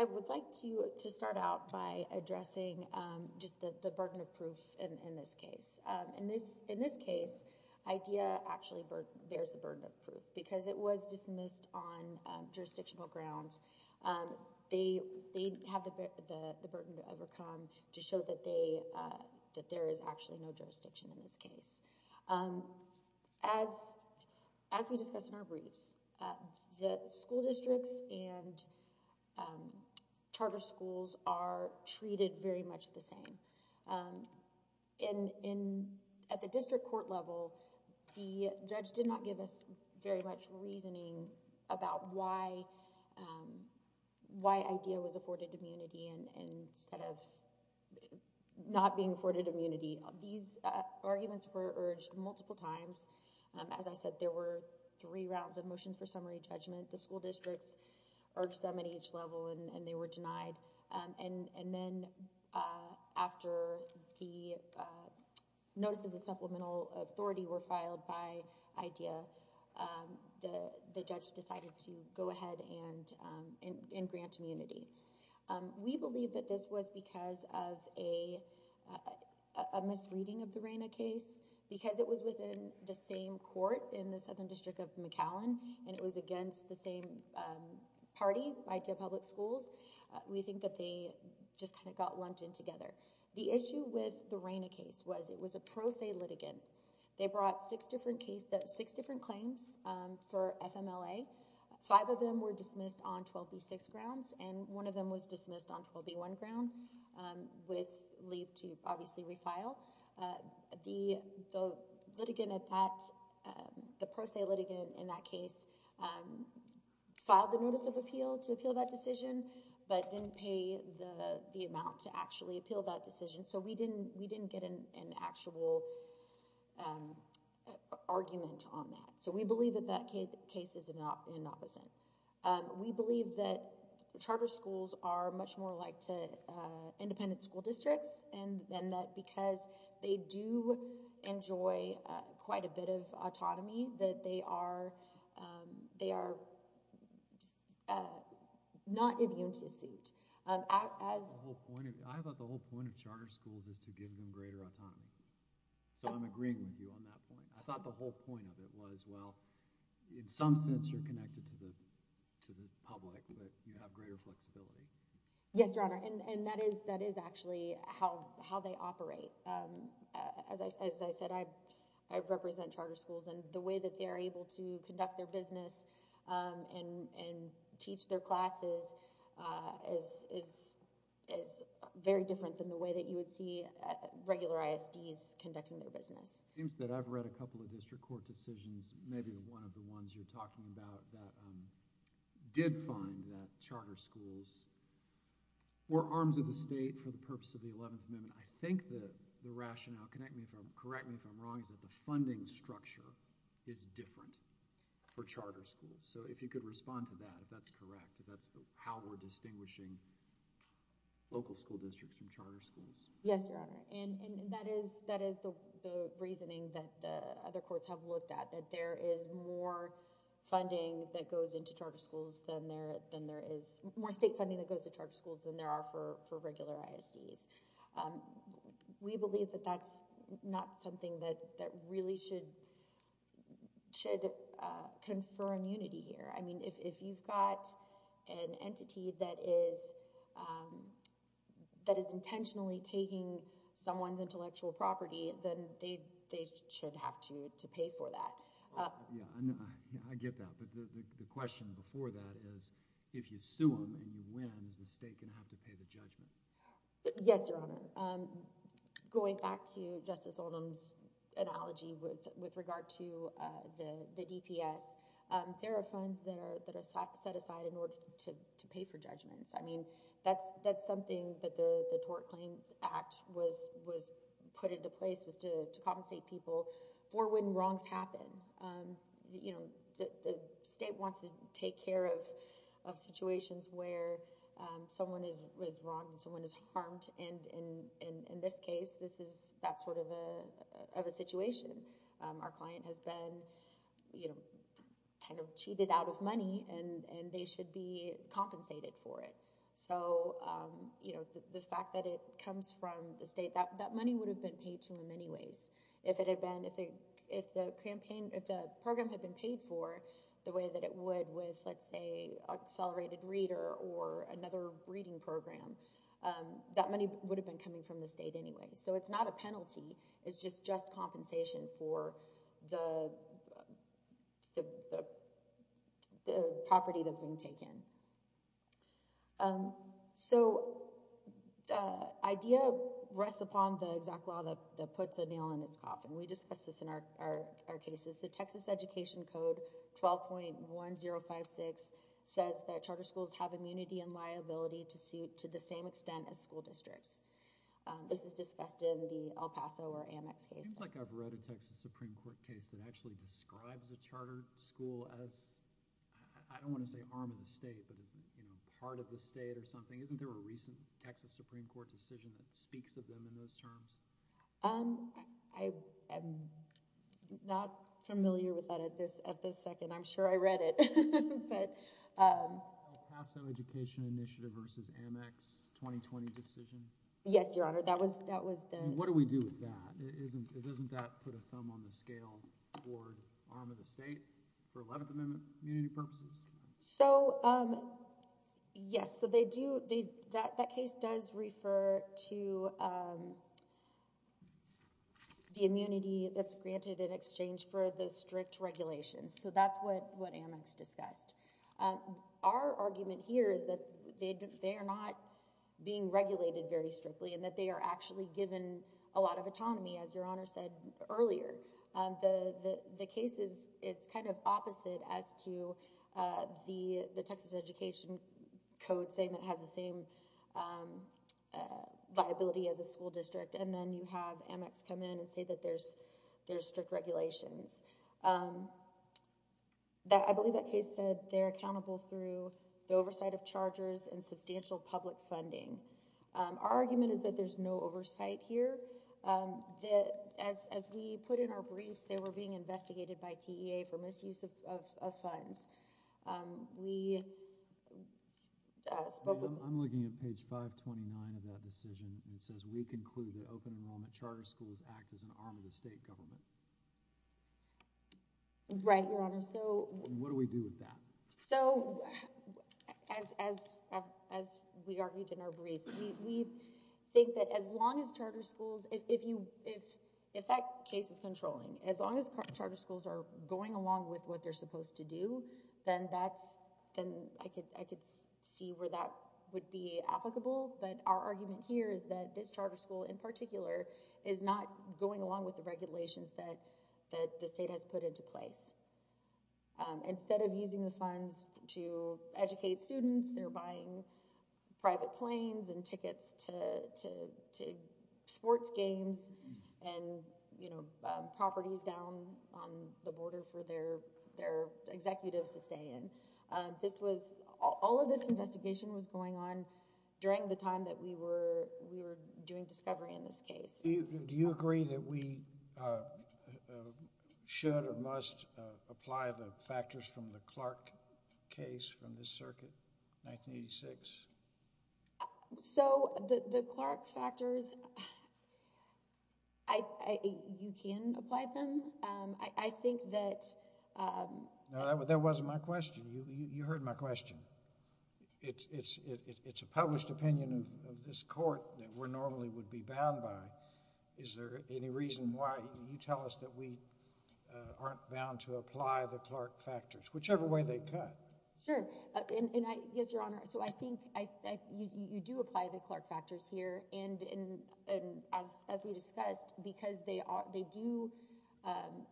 I would like to start out by addressing just the burden of proof in this case. In this case, IDEA actually bears the burden of proof because it was dismissed on jurisdictional grounds. They have the burden to overcome to show that there is actually no jurisdiction in this case. As we discussed in our briefs, the school districts and charter schools are treated very the same. At the district court level, the judge did not give us very much reasoning about why IDEA was afforded immunity instead of not being afforded immunity. These arguments were urged multiple times. As I said, there were three rounds of motions for summary judgment. The school after the notices of supplemental authority were filed by IDEA, the judge decided to go ahead and grant immunity. We believe that this was because of a misreading of the RANA case. Because it was within the same court in the Southern District of McAllen and it was against the same party, IDEA Public Schools, we think that they just kind of got lumped in together. The issue with the RANA case was it was a pro se litigant. They brought six different claims for FMLA. Five of them were dismissed on 12B6 grounds and one of them was dismissed on 12B1 ground with leave to obviously refile. The litigant at that, the pro se litigant in that case filed the notice of appeal to appeal that decision but didn't pay the amount to actually appeal that decision. So we didn't get an actual argument on that. So we believe that that independent school districts and that because they do enjoy quite a bit of autonomy that they are not immune to suit. I thought the whole point of charter schools is to give them greater autonomy. So I'm agreeing with you on that point. I thought the whole point of it was, well, in some sense you're connected to the public but you have greater flexibility. Yes, Your Honor, and that is actually how they operate. As I said, I represent charter schools and the way that they are able to conduct their business and teach their classes is very different than the way that you would see regular ISDs conducting their business. It seems that I've read a couple of district court decisions, maybe one of the ones you're referring to, where they say, well, we're arms of the state for the purpose of the 11th Amendment. I think the rationale, correct me if I'm wrong, is that the funding structure is different for charter schools. So if you could respond to that, if that's correct, if that's how we're distinguishing local school districts from charter schools. Yes, Your Honor, and that is the reasoning that the other courts have looked at, that there is more funding that goes into charter schools than there is, more state funding that goes to charter schools than there are for regular ISDs. We believe that that's not something that really should confer immunity here. I mean, if you've got an entity that is intentionally taking someone's intellectual property, then they should have to pay for that. Yeah, I get that, but the question before that is, if you sue them and you win, is the state going to have to pay the judgment? Yes, Your Honor. Going back to Justice Oldham's analogy with regard to the DPS, there are funds that are set aside in order to pay for judgments. I mean, that's something that the Tort Claims Act was put into place, was to compensate people for when wrongs happen. You know, the state wants to take care of situations where someone is wrong and someone is harmed, and in this case, this is that sort of a situation. Our client has been, you know, kind of cheated out of money, and they should be compensated for it. So, you know, the fact that it comes from the state, that money would have been paid to them anyways, if it had been, if the campaign, if the program had been paid for the way that it would with, let's say, Accelerated Reader or another reading program, that money would have been coming from the state anyways. So, it's not a penalty, it's just compensation for the property that's been taken from them. We talk about this a lot in our cases. The Texas Education Code 12.1056 says that charter schools have immunity and liability to suit to the same extent as school districts. This is discussed in the El Paso or Amex case. It seems like I've read a Texas Supreme Court case that actually describes a charter school as, I don't want to say harmed the state, but you know, part of the state or something. Isn't there a recent Texas Supreme Court decision that speaks of them in those terms? Um, I am not familiar with that at this at this second. I'm sure I read it, but, um, Paso Education Initiative versus Amex 2020 decision. Yes, Your Honor. That was that was what do we do with that? Isn't it? Doesn't that put a thumb on the scale or arm of the state for 11th Amendment community purposes? So, um, yes, so they do. That case does refer to, um, the immunity that's granted in exchange for the strict regulations. So that's what what Amex discussed. Our argument here is that they are not being regulated very strictly and that they are actually given a lot of autonomy. As Your Honor said earlier, the the case is it's kind of opposite as to, uh, the the Texas Education Code saying that has the same, um, uh, viability as a school district. And then you have Amex come in and say that there's there's strict regulations. Um, that I believe that case said they're accountable through the oversight of chargers and substantial public funding. Um, our argument is that there's no were being investigated by T. E. A. For misuse of funds. Um, we spoke. I'm looking at page 5 29 of that decision and says we conclude that open enrollment charter schools act as an arm of the state government. Right, Your Honor. So what do we do with that? So as as as we argued in our briefs, we think that as long as charter schools, if you if if that case is controlling as long as charter schools are going along with what they're supposed to do, then that's then I could I could see where that would be applicable. But our argument here is that this charter school in particular is not going along with the regulations that that the state has put into place. Um, instead of using the funds to educate students, they're buying private planes and tickets to to to sports games and, you know, properties down on the border for their their executives to stay in. This was all of this investigation was going on during the time that we were we were doing discovery in this case. Do you agree that we should or must apply the factors from the Clark case from this circuit 1986? So the Clark factors I you can apply them. I think that that wasn't my question. You heard my question. It's it's it's a published opinion of this court that we're normally would be bound by. Is there any reason why you tell us that we aren't bound to apply the Clark factors, whichever way they cut? Sure. And I guess your honor. So I think I you do apply the Clark factors here and and as as we discussed, because they are they do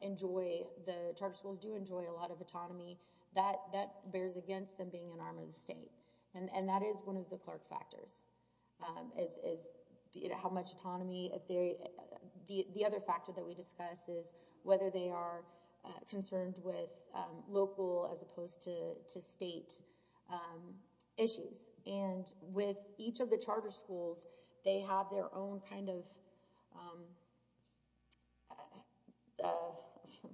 enjoy the charter schools do enjoy a lot of autonomy that that bears against them being an arm of the state. And that is one of the Clark factors is how much autonomy theory. The other factor that we discuss is whether they are concerned with local as opposed to state issues. And with each of the charter schools, they have their own kind of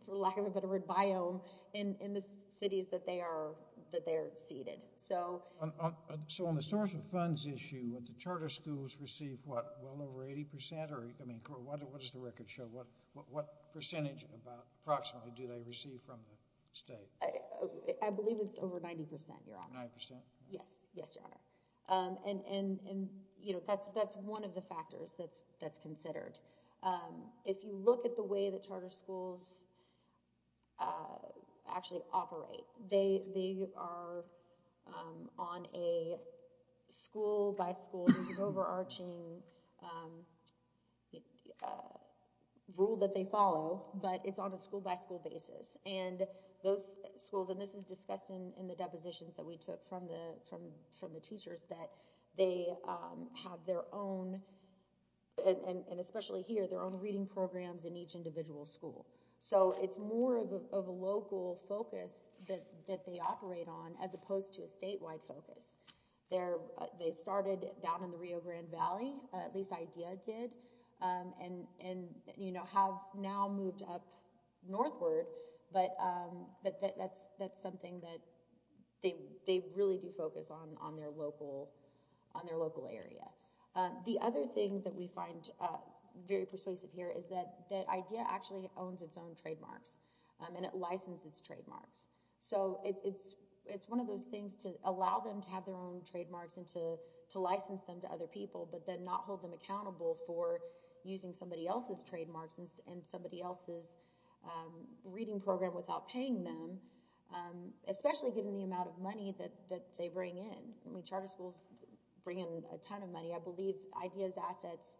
for lack of a better word biome in the cities that they are that they're seated. So so on the source of funds issue at the charter schools receive what well over 80 percent or I mean, what is the record show? What what percentage about approximately do they receive from the state? I believe it's over 90 percent. You're on. Yes. Yes. And you know, that's that's one of the factors that's that's considered. If you look at the way the charter schools actually operate, they they are on a school by school overarching rule that they follow, but it's on a school by school basis. And those schools and this is discussed in the depositions that we took from the from from the teachers that they have their own and especially here, their own reading programs in each individual school. So it's more of a local focus that they operate on as opposed to a statewide focus there. They started down in the Rio Grande Valley, at least idea did and and, you know, have now moved up local on their local area. The other thing that we find very persuasive here is that that idea actually owns its own trademarks and it licensed its trademarks. So it's it's it's one of those things to allow them to have their own trademarks and to to license them to other people, but then not hold them accountable for using somebody else's trademarks and somebody else's reading program without paying them, especially given the amount of money that that they bring in. I mean charter schools bring in a ton of money. I believe ideas assets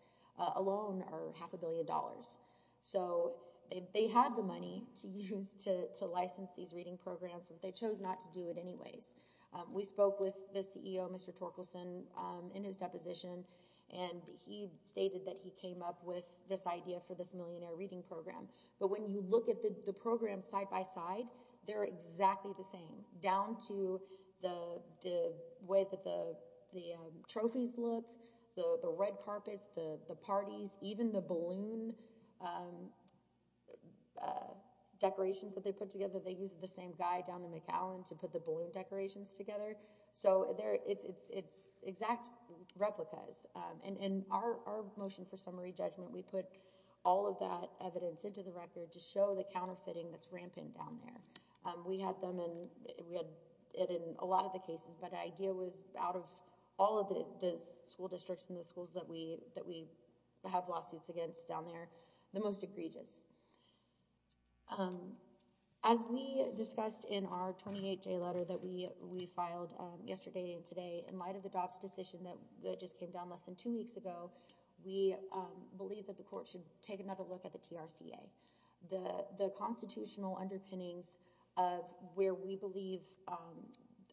alone are half a billion dollars. So they have the money to use to to license these reading programs, but they chose not to do it anyways. We spoke with the CEO, Mr. Torkelson in his deposition, and he stated that he they're exactly the same down to the way that the the trophies look, the red carpets, the parties, even the balloon decorations that they put together. They use the same guy down to McAllen to put the balloon decorations together. So there it's it's exact replicas and in our motion for the record to show the counterfeiting that's rampant down there. We had them and we had it in a lot of the cases, but the idea was out of all of the the school districts and the schools that we that we have lawsuits against down there, the most egregious. As we discussed in our 28-day letter that we we filed yesterday and today in light of the DOPS decision that just came down less than two weeks ago, we believe that the court should take another look at the TRCA. The the constitutional underpinnings of where we believe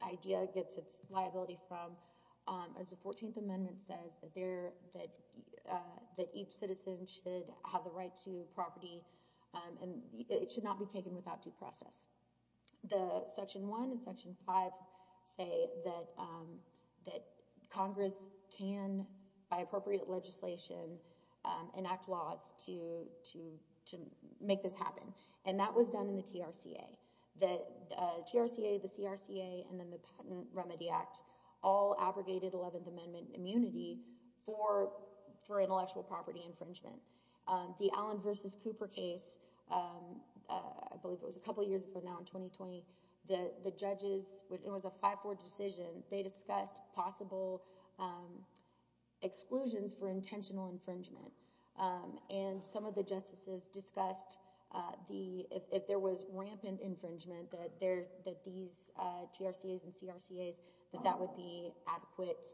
IDEA gets its liability from as the 14th amendment says that there that that each citizen should have the right to property and it should not be taken without due process. The section one and section five say that that Congress can, by appropriate legislation, enact laws to to to make this happen and that was done in the TRCA. The TRCA, the CRCA, and then the Patent Remedy Act all abrogated 11th amendment immunity for for intellectual property infringement. The Allen versus Cooper case, I believe it was a the the judges, it was a 5-4 decision, they discussed possible exclusions for intentional infringement and some of the justices discussed the if there was rampant infringement that there that these TRCAs and CRCAs that that would be adequate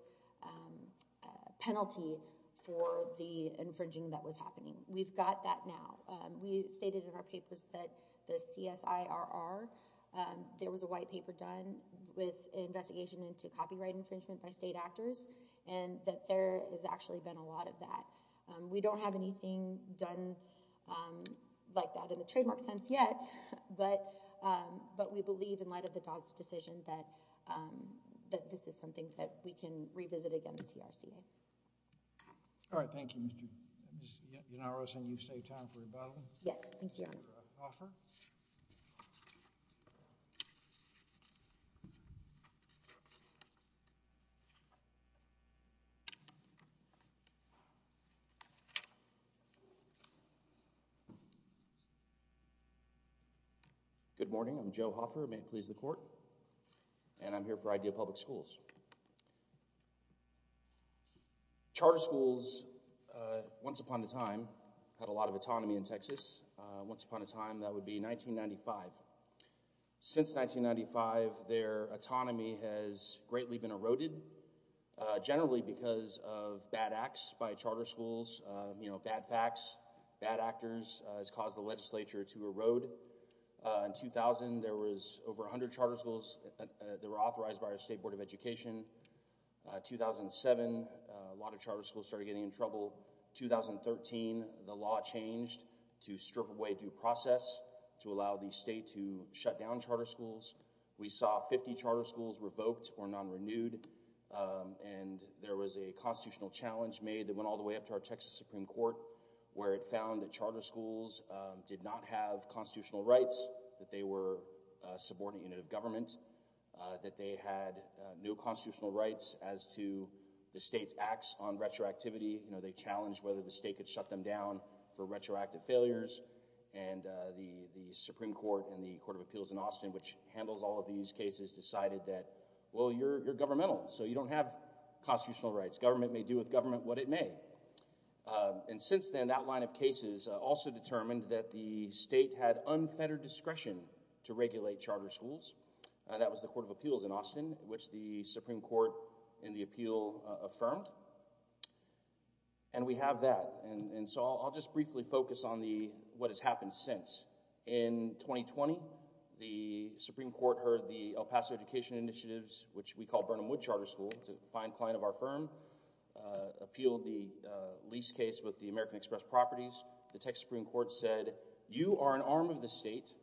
penalty for the infringing that was happening. We've got that now. We stated in our papers that the CSIRR, there was a white paper done with investigation into copyright infringement by state actors and that there has actually been a lot of that. We don't have anything done like that in the trademark sense yet, but but we believe in light of the Dodd's decision that that this is something that we can revisit again in the TRCA. All right, thank you, Mr. Yannaros, and you've saved time for rebuttal. Yes, thank you, Your Honor. Good morning, I'm Joe Hoffer, may it please the court, and I'm here for Ideal Public Schools. Charter schools, once upon a time, had a lot of autonomy in Texas. Once upon a time, that would be 1995. Since 1995, their autonomy has greatly been eroded, generally because of bad acts by charter schools, you know, bad facts, bad actors has caused the legislature to erode. In 2000, there was over 100 charter schools that were authorized by our State Board of Education. 2007, a lot of charter schools started getting in trouble. 2013, the law changed to strip away due process to allow the state to shut down charter schools. We saw 50 charter schools revoked or non-renewed, and there was a constitutional challenge made that went all the way up to our Texas Supreme Court, where it did not have constitutional rights, that they were a subordinate unit of government, that they had no constitutional rights as to the state's acts on retroactivity. You know, they challenged whether the state could shut them down for retroactive failures, and the Supreme Court and the Court of Appeals in Austin, which handles all of these cases, decided that, well, you're governmental, so you don't have constitutional rights. Government may do with government what it may, and since then, that line of cases also determined that the state had unfettered discretion to regulate charter schools. That was the Court of Appeals in Austin, which the Supreme Court in the appeal affirmed, and we have that, and so I'll just briefly focus on the what has happened since. In 2020, the Supreme Court heard the El Paso Education Initiatives, which we call Burnham Wood Charter School, a fine client of our firm, appealed the lease case with the American Express Properties. The Texas Supreme Court said, you are an arm of the state,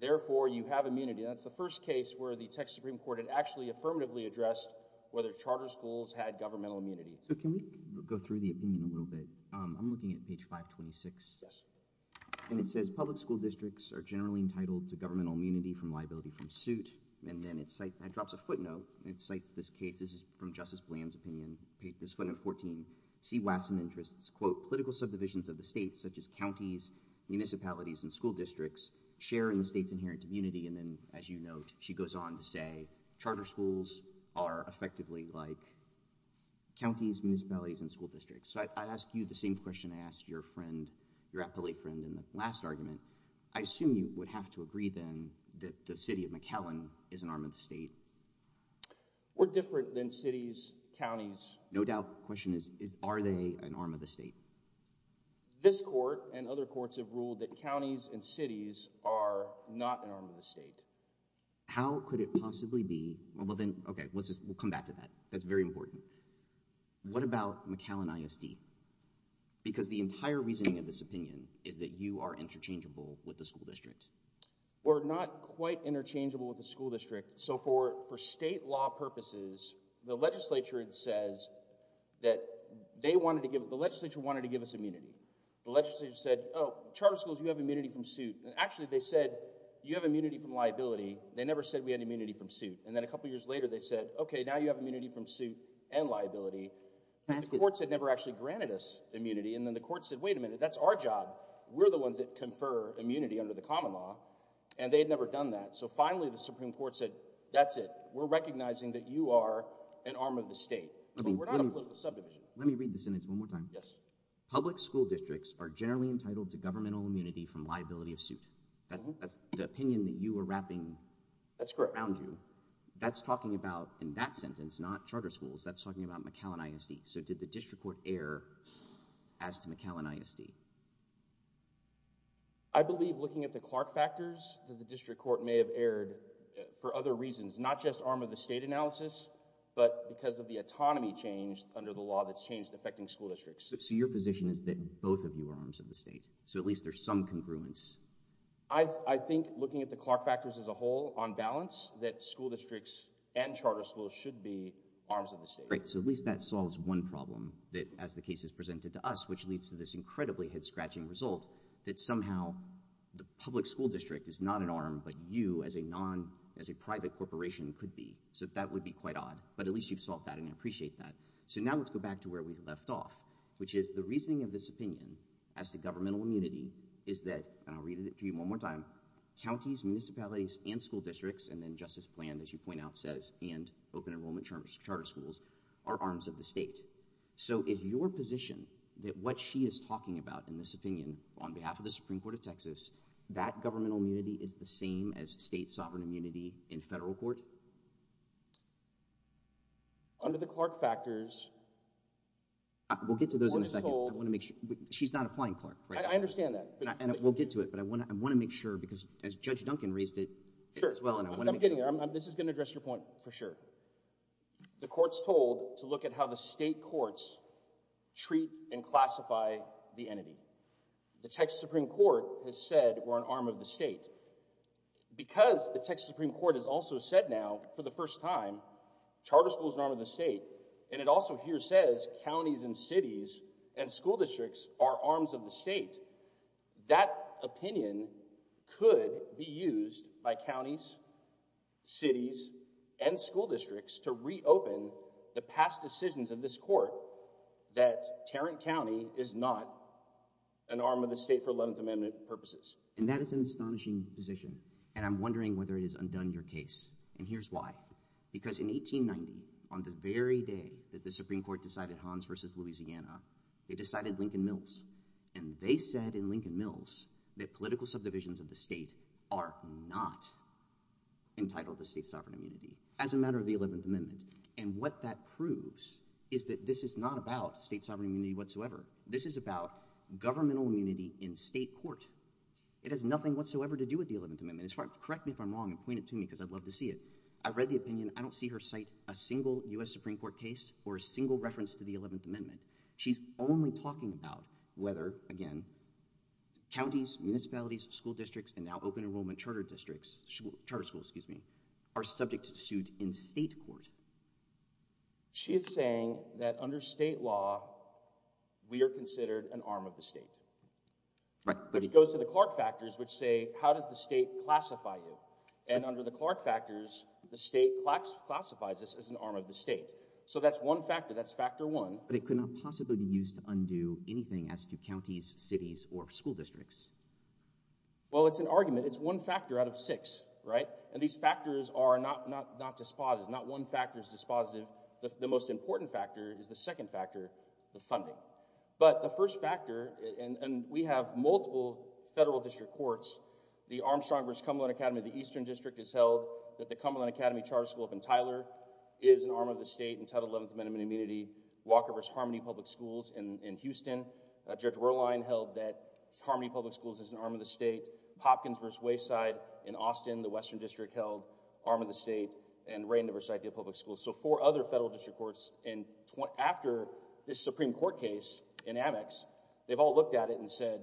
therefore, you have immunity. That's the first case where the Texas Supreme Court had actually affirmatively addressed whether charter schools had governmental immunity. So can we go through the opinion a little bit? I'm looking at page 526, and it says, public school districts are generally entitled to governmental immunity from liability from suit, and then it drops a footnote. It cites this case. This is from Justice Bland's opinion. Page 514, see Wasson interests, quote, political subdivisions of the states, such as counties, municipalities, and school districts, sharing the state's inherent immunity, and then, as you note, she goes on to say, charter schools are effectively like counties, municipalities, and school districts. So I'd ask you the same question I asked your friend in the last argument. I assume you would have to agree, then, that the city of McAllen is an arm of the state. We're different than cities, counties. No doubt. The question is, are they an arm of the state? This court and other courts have ruled that counties and cities are not an arm of the state. How could it possibly be? Well, then, okay, we'll come back to that. That's very important. What about McAllen ISD? Because the entire reasoning of this opinion is that you are interchangeable with the school district. We're not quite interchangeable with the school district. So for, for state law purposes, the legislature says that they wanted to give, the legislature wanted to give us immunity. The legislature said, oh, charter schools, you have immunity from suit, and actually, they said, you have immunity from liability. They never said we had immunity from suit, and then a couple years later, they said, okay, now you have immunity from suit and liability. The courts had never actually granted us immunity, and then the court said, wait a minute, that's our job. We're the ones that confer immunity under the common law, and they had never done that. So finally, the Supreme Court said, that's it. We're recognizing that you are an arm of the state. We're not a political subdivision. Let me read the sentence one more time. Yes. Public school districts are generally entitled to governmental immunity from liability of suit. That's the opinion that you were wrapping around you. That's correct. That's about, in that sentence, not charter schools, that's talking about McAllen ISD. So did the district court err as to McAllen ISD? I believe, looking at the Clark factors, that the district court may have erred for other reasons, not just arm of the state analysis, but because of the autonomy change under the law that's changed affecting school districts. So your position is that both of you are arms of the state. So at least there's some congruence. I, I think looking at the Clark factors as a whole, on balance, that school districts and charter schools should be arms of the state. Great. So at least that solves one problem that, as the case is presented to us, which leads to this incredibly head-scratching result that somehow the public school district is not an arm, but you as a non, as a private corporation could be. So that would be quite odd, but at least you've solved that and I appreciate that. So now let's go back to where we left off, which is the reasoning of this opinion as to governmental immunity is that, and I'll read it and school districts, and then justice plan, as you point out, says, and open enrollment charter schools are arms of the state. So is your position that what she is talking about in this opinion on behalf of the Supreme Court of Texas, that governmental immunity is the same as state sovereign immunity in federal court? Under the Clark factors. We'll get to those in a second. She's not applying Clark. I understand that. And we'll get to it. But I want to, I want to make sure because as judge Duncan raised it as well, and I want to make sure this is going to address your point for sure. The court's told to look at how the state courts treat and classify the entity. The Texas Supreme Court has said we're an arm of the state because the Texas Supreme Court has also said now for the first time, charter schools are an arm of the state. And it also here says counties and cities and school districts are arms of the state. That opinion could be used by counties, cities, and school districts to reopen the past decisions of this court that Tarrant County is not an arm of the state for 11th amendment purposes. And that is an astonishing position. And I'm wondering whether it is undone your case. And here's why, because in 1890, on the very day that the Supreme Court decided Hans versus Louisiana, they decided Lincoln Mills. And they said in Lincoln Mills that political subdivisions of the state are not entitled to state sovereign immunity as a matter of the 11th amendment. And what that proves is that this is not about state sovereign immunity whatsoever. This is about governmental immunity in state court. It has nothing whatsoever to do with the 11th amendment. Correct me if I'm wrong and point it to me because I'd love to see it. I've read the opinion. I don't see her cite a single U.S. Supreme Court case or a single reference to the 11th amendment. She's only talking about whether, again, counties, municipalities, school districts, and now open enrollment charter districts, charter schools, excuse me, are subject to suit in state court. She is saying that under state law, we are considered an arm of the state. Right. Which goes to the Clark factors, which say, how does the state classify you? And under the Clark factors, the state classifies us as an arm of the state. So that's one factor. That's factor one. But it could not possibly be used to undo anything as to counties, cities, or school districts. Well, it's an argument. It's one factor out of six, right? And these factors are not dispositive. Not one factor is dispositive. The most important factor is the second factor, the funding. But the first factor, and we have multiple federal district courts, the Armstrong versus Cumberland Academy of the Eastern District has held that the Cumberland Academy Charter School up in Tyler is an arm of the state and Title 11th amendment immunity. Walker versus Harmony Public Schools in Houston. Judge Rorlein held that Harmony Public Schools is an arm of the state. Hopkins versus Wayside in Austin, the Western District, held arm of the state, and Rayner versus Idea Public Schools. So four other federal district courts, and after this Supreme Court case in Amex, they've all looked at it and said,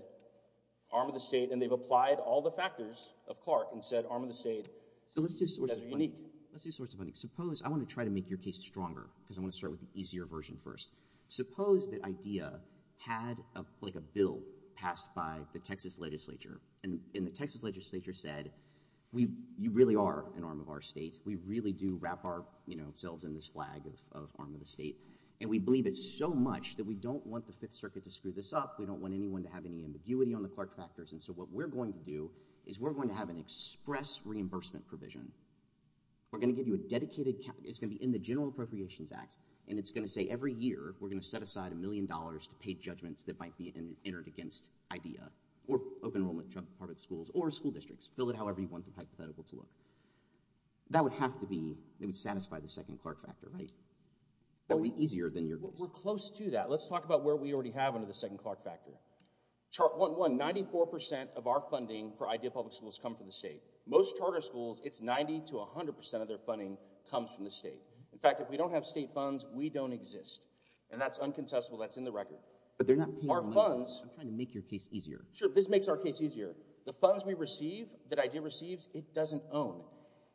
arm of the state. And they've applied all the factors of Clark and said, arm of the state. So let's do sources of funding. Let's do sources of funding. Suppose, I want to try to make your case stronger, because I want to start with the easier version first. Suppose that Idea had a bill passed by the Texas legislature, and the Texas legislature said, you really are an arm of our state. We really do wrap ourselves in this flag of arm of the state. And we believe it so much that we don't want the Fifth Circuit to screw this up. We don't want anyone to have any ambiguity on the Clark factors. And so what we're going to do is we're going to have an express reimbursement provision. We're going to give you a dedicated cap. It's going to be in the General Appropriations Act. And it's going to say, every year, we're going to set aside a million dollars to pay judgments that might be entered against Idea, or Open Enrollment Department schools, or school districts. Fill it however you want the hypothetical to look. That would have to be, it would satisfy the second Clark factor, right? That would be easier than your case. We're close to that. Let's talk about where we already have under the second Clark factor. Chart 1.1, 94% of our funding for Idea Public Schools come from the state. Most charter schools, it's 90% to 100% of their funding comes from the state. In fact, if we don't have state funds, we don't exist. And that's uncontestable. That's in the record. But they're not paying money. Our funds... I'm trying to make your case easier. Sure. This makes our case easier. The funds we receive, that Idea receives, it doesn't own.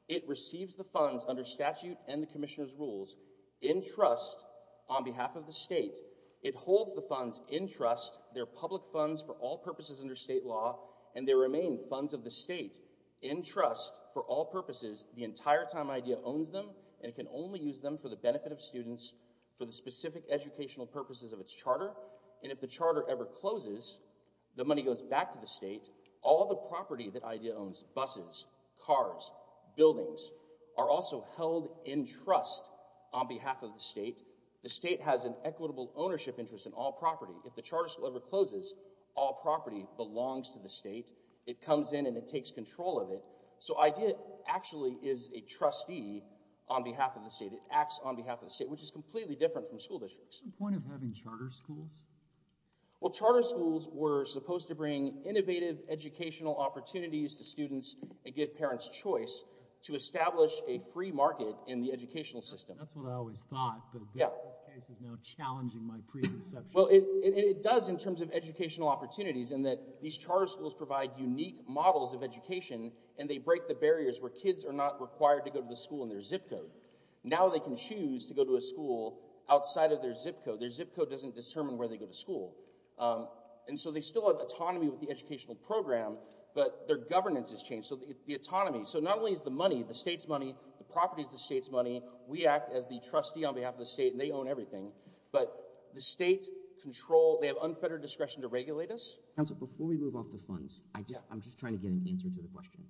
It receives the funds under statute and the Commissioner's rules, in trust, on behalf of the state. It holds the funds in trust. They're public funds for all purposes under state law. And they remain funds of the state, in trust, for all purposes, the entire time Idea owns them. And it can only use them for the benefit of students, for the specific educational purposes of its charter. And if the charter ever closes, the money goes back to the state. All the property that Idea owns, buses, cars, buildings, are also held in trust on behalf of the state. The state has an equitable ownership interest in all property. If the charter school ever closes, all property belongs to the state. It comes in and it takes control of it. So Idea actually is a trustee on behalf of the state. It acts on behalf of the state, which is completely different from school districts. What's the point of having charter schools? Well, charter schools were supposed to bring innovative educational opportunities to students and give parents choice to establish a free market in the educational system. That's what I always thought, but this case is now challenging my preconception. Well, it does in terms of educational opportunities in that these charter schools provide unique models of education, and they break the barriers where kids are not required to go to the school in their zip code. Now they can choose to go to a school outside of their zip code. Their zip code doesn't determine where they go to school. And so they still have autonomy with the educational program, but their governance has changed. So the autonomy, so not only is the money, the state's money, the property is the state's money. We act as the trustee on behalf of the state and they own everything. But the state control, they have unfettered discretion to regulate us. Council, before we move off the funds, I'm just trying to get an answer to the question.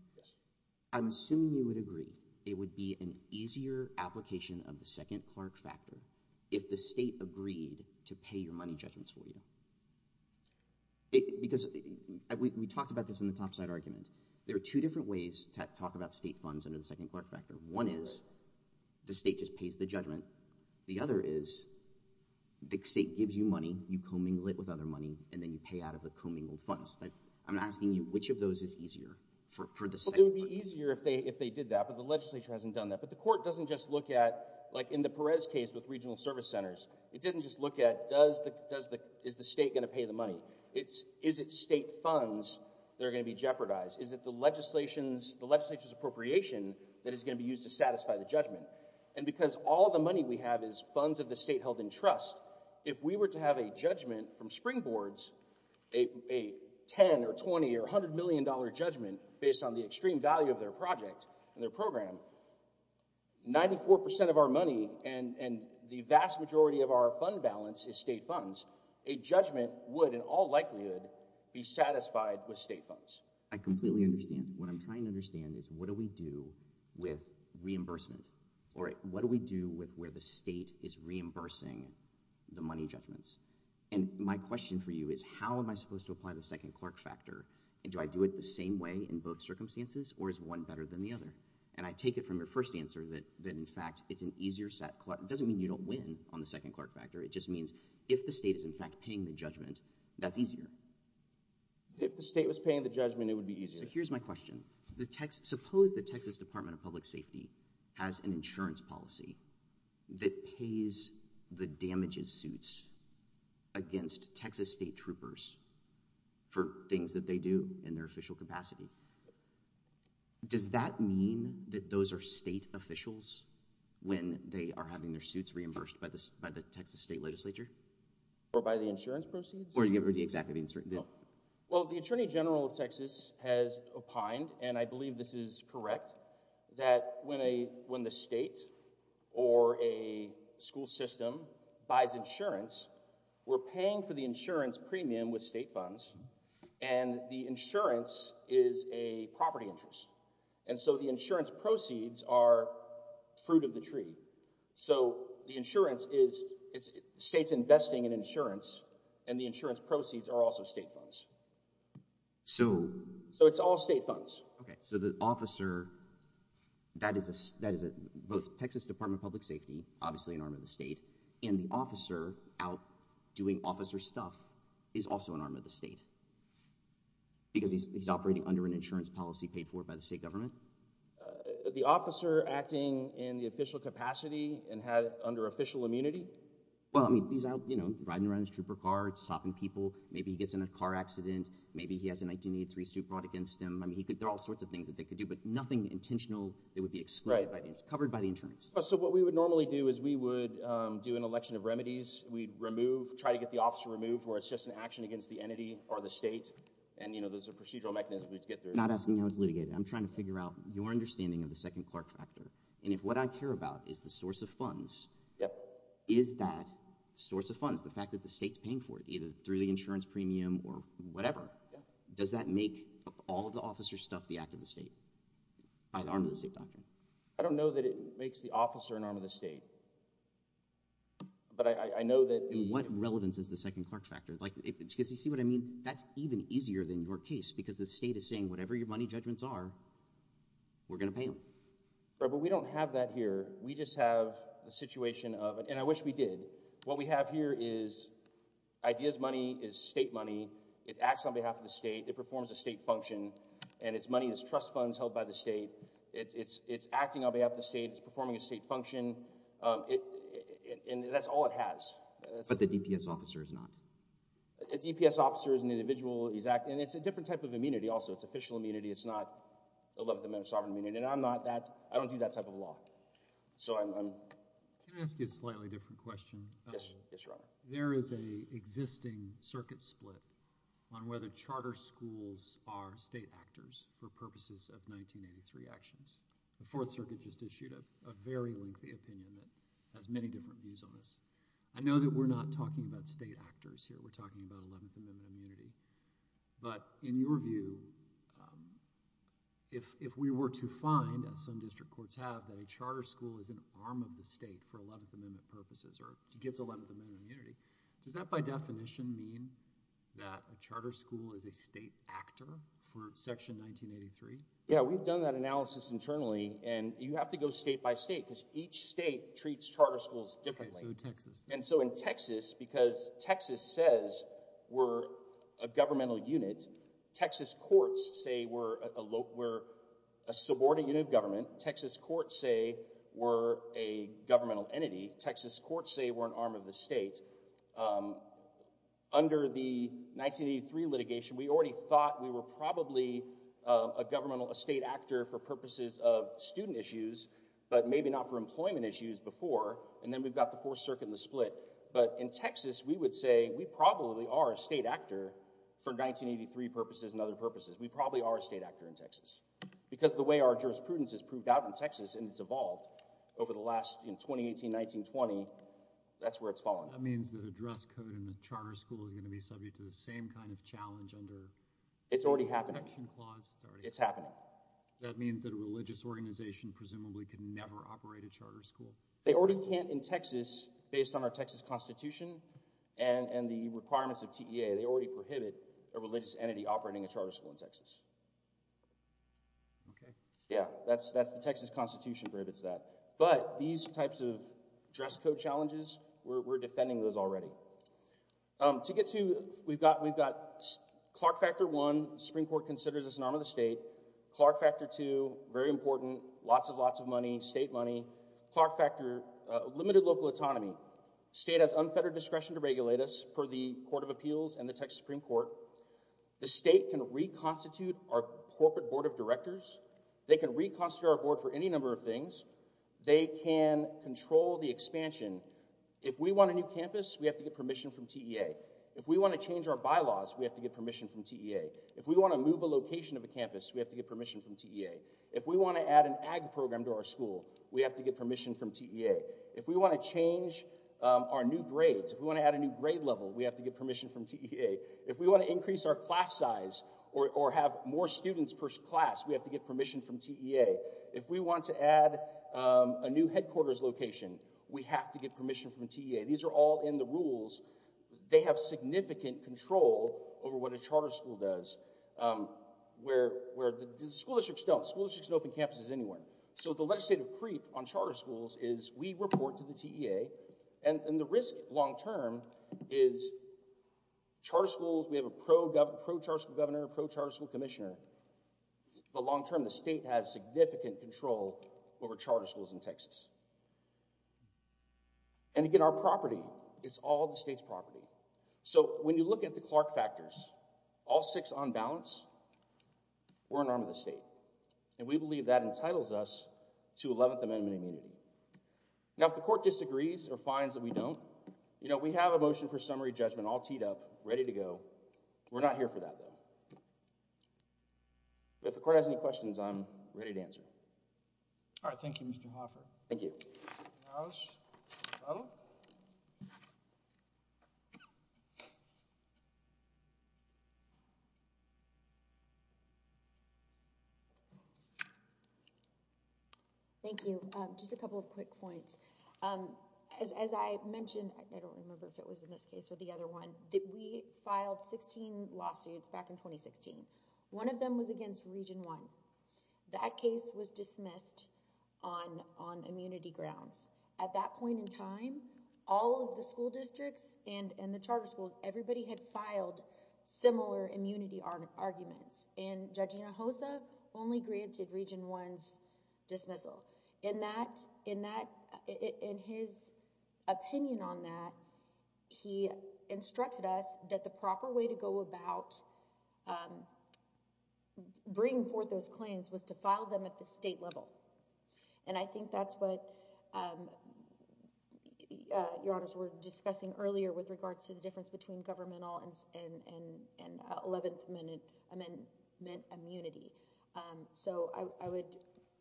I'm assuming you would agree it would be an easier application of the second Clark factor if the state agreed to pay your money judgments for you. Because we talked about this in the topside argument. There are two different ways to talk about state funds under the second Clark factor. One is the state just pays the judgment. The other is the state gives you money, you co-mingle it with other money, and then you pay out of the co-mingled funds. I'm asking you which of those is easier for the state. It would be easier if they did that, but the legislature hasn't done that. The court doesn't just look at, like in the Perez case with regional service centers, it didn't just look at is the state going to pay the money. Is it state funds that are going to be jeopardized? Is it the legislature's appropriation that is going to be used to satisfy the judgment? Because all the money we have is funds of the state held in trust, if we were to have a judgment from springboards, a $10 or $20 or $100 million judgment based on the extreme value of their project and their program, 94% of our money and the vast majority of our fund balance is state funds, a judgment would in all likelihood be satisfied with state funds. I completely understand. What I'm trying to understand is what do we do with reimbursement? Or what do we do with where the state is reimbursing the money judgments? And my question for you is how am I supposed to apply the second Clark factor? And do I do it the same way in both circumstances? Or is one better than the other? And I take it from your first answer that in fact, it's an easier set. It doesn't mean you don't win on the second Clark factor. It just means if the state is in fact paying the judgment, that's easier. If the state was paying the judgment, it would be easier. So here's my question. Suppose the Texas Department of Public Safety has an insurance policy that pays the damages suits against Texas state troopers for things that they do in their official capacity. Does that mean that those are state officials when they are having their suits reimbursed by the Texas state legislature? Or by the insurance proceeds? Or you give the exact... Well, the Attorney General of Texas has opined, and I believe this is correct, that when the state or a school system buys insurance, we're paying for the insurance premium with state funds, and the insurance is a property interest. And so the insurance proceeds are fruit of the tree. So the insurance is... State's investing in insurance, and the insurance proceeds are also state funds. So it's all state funds. Okay. So the officer, that is both Texas Department of Public Safety, obviously an arm of the state, and the officer out doing officer stuff is also an arm of the state. Because he's operating under an insurance policy paid for by the state government? The officer acting in the official capacity and had under official immunity? Well, I mean, he's out, you know, riding around his trooper car, stopping people. Maybe he gets in a car accident. Maybe he has a 1983 suit brought against him. There are all sorts of things that they could do, but nothing intentional that would be covered by the insurance. So what we would normally do is we would do an election of remedies. We'd remove, try to get the officer removed, where it's just an action against the entity or the state. And, you know, there's a procedural mechanism we'd get through. Not asking how it's litigated. I'm trying to figure out your understanding of the second Clark factor. And if what I care about is the source of funds, is that source of funds, the fact that the state's paying for it, either through the insurance premium or whatever, does that make all of the officer stuff the act of the state? By the arm of the state doctrine? I don't know that it makes the officer an arm of the state. But I know that... What relevance is the second Clark factor? Like, because you see what I mean? That's even easier than your case, because the state is saying whatever your money judgments are, we're going to pay them. But we don't have that here. We just have the situation of, and I wish we did. What we have here is ideas money, is state money. It acts on behalf of the state. It performs a state function. And it's money, it's trust funds held by the state. It's acting on behalf of the state. It's performing a state function. And that's all it has. But the DPS officer is not? A DPS officer is an individual. He's acting... And it's a different type of immunity also. It's official immunity. It's not 11th Amendment sovereign immunity. And I'm not that... So I'm... Can I ask you a slightly different question? Yes. Yes, your honor. There is a existing circuit split on whether charter schools are state actors for purposes of 1983 actions. The Fourth Circuit just issued a very lengthy opinion that has many different views on this. I know that we're not talking about state actors here. We're talking about 11th Amendment immunity. But in your view, if we were to find, as some district courts have, that a charter school is an arm of the state for 11th Amendment purposes or gets 11th Amendment immunity, does that by definition mean that a charter school is a state actor for Section 1983? Yeah, we've done that analysis internally. And you have to go state by state because each state treats charter schools differently. And so in Texas, because Texas says we're a governmental unit, Texas courts say we're a subordinate unit of government. Texas courts say we're a governmental entity. Texas courts say we're an arm of the state. Under the 1983 litigation, we already thought we were probably a governmental state actor for purposes of student issues, but maybe not for employment issues before. And then we've got the Fourth Circuit and the split. But in Texas, we would say we probably are a state actor for 1983 purposes and other purposes. We probably are a state actor in Texas because the way our jurisprudence is proved out in Texas, and it's evolved over the last, in 2018-1920, that's where it's fallen. That means that a dress code in a charter school is going to be subject to the same kind of challenge under— It's already happening. —the Convention Clause? It's happening. That means that a religious organization presumably could never operate a charter school? They already can't in Texas based on our Texas Constitution and the requirements of TEA. They already prohibit a religious entity operating a charter school in Texas. Okay. Yeah, that's the Texas Constitution prohibits that. But these types of dress code challenges, we're defending those already. To get to— We've got Clark Factor I, the Supreme Court considers us an arm of the state. Clark Factor II, very important, lots and lots of money, state money. Clark Factor, limited local autonomy. State has unfettered discretion to regulate us per the Court of Appeals and the Texas Supreme Court. The state can reconstitute our corporate board of directors they can reconstitute our board for any number of things, they can control the expansion. If we want a new campus, we have to get permission from TEA. If we want to change our bylaws, we have to get permission from TEA. If we want to move a location of the campus, we have to get permission from TEA. If we want to add an ag program to our school, we have to get permission from TEA. If we want to change our new grades, if we want to add a new grade level, we have to get permission from TEA. If we want to increase our class size or have more students per class, we have to get permission from TEA. If we want to add a new headquarters location, we have to get permission from TEA. These are all in the rules. They have significant control over what a charter school does, where the school districts don't. School districts don't open campuses anywhere. So the legislative creep on charter schools is we report to the TEA, and the risk long term is charter schools, we have a pro-charter school governor, pro-charter school commissioner, but long term, the state has significant control over charter schools in Texas. And again, our property, it's all the state's property. So when you look at the Clark factors, all six on balance, we're an arm of the state. And we believe that entitles us to 11th Amendment immunity. Now, if the court disagrees or finds that we don't, you know, we have a motion for summary judgment all teed up, ready to go. We're not here for that, though. If the court has any questions, I'm ready to answer. All right. Thank you, Mr. Hoffer. Thank you. Thank you. Just a couple of quick points. As I mentioned, I don't remember if it was in this case or the other one, that we filed 16 lawsuits back in 2016. One of them was against Region 1. That case was dismissed on immunity grounds. At that point in time, all of the school districts and the charter schools, everybody had filed similar immunity arguments. And Judge Hinojosa only granted Region 1's dismissal. In his opinion on that, he instructed us that the proper way to go about bringing forth those claims was to file them at the state level. And I think that's what, Your Honors, we're discussing earlier with regards to the difference between governmental and 11th Amendment immunity. So I would,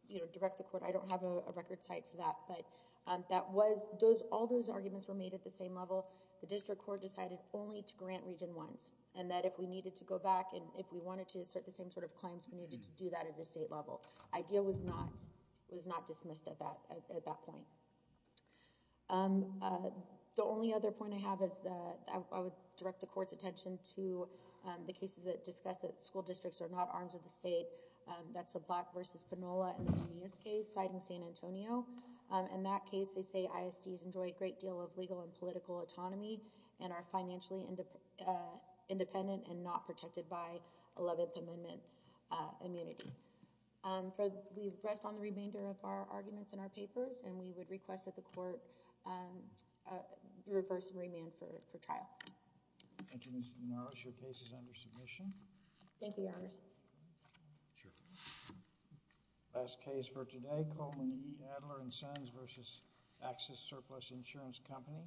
you know, direct the court. I don't have a record site for that. But that was, all those arguments were made at the same level. The district court decided only to grant Region 1's. And that if we needed to go back, and if we wanted to assert the same sort of claims, we needed to do that at the state level. IDEA was not dismissed at that point. The only other point I have is that I would direct the court's attention to the cases that discuss that school districts are not arms of the state. That's the Black v. Panola case, citing San Antonio. In that case, they say ISDs enjoy a great deal of legal and political autonomy and are financially independent and not protected by 11th Amendment immunity. We rest on the remainder of our arguments in our papers. And we would request that the court reverse remand for trial. JUDGE SCHROEDER. Ms. Norris, your case is under submission. Thank you, Your Honors. JUDGE SCHROEDER. Sure. JUDGE SCHROEDER. Last case for today, Coleman E. Adler & Sons v. Axis Surplus Insurance Company.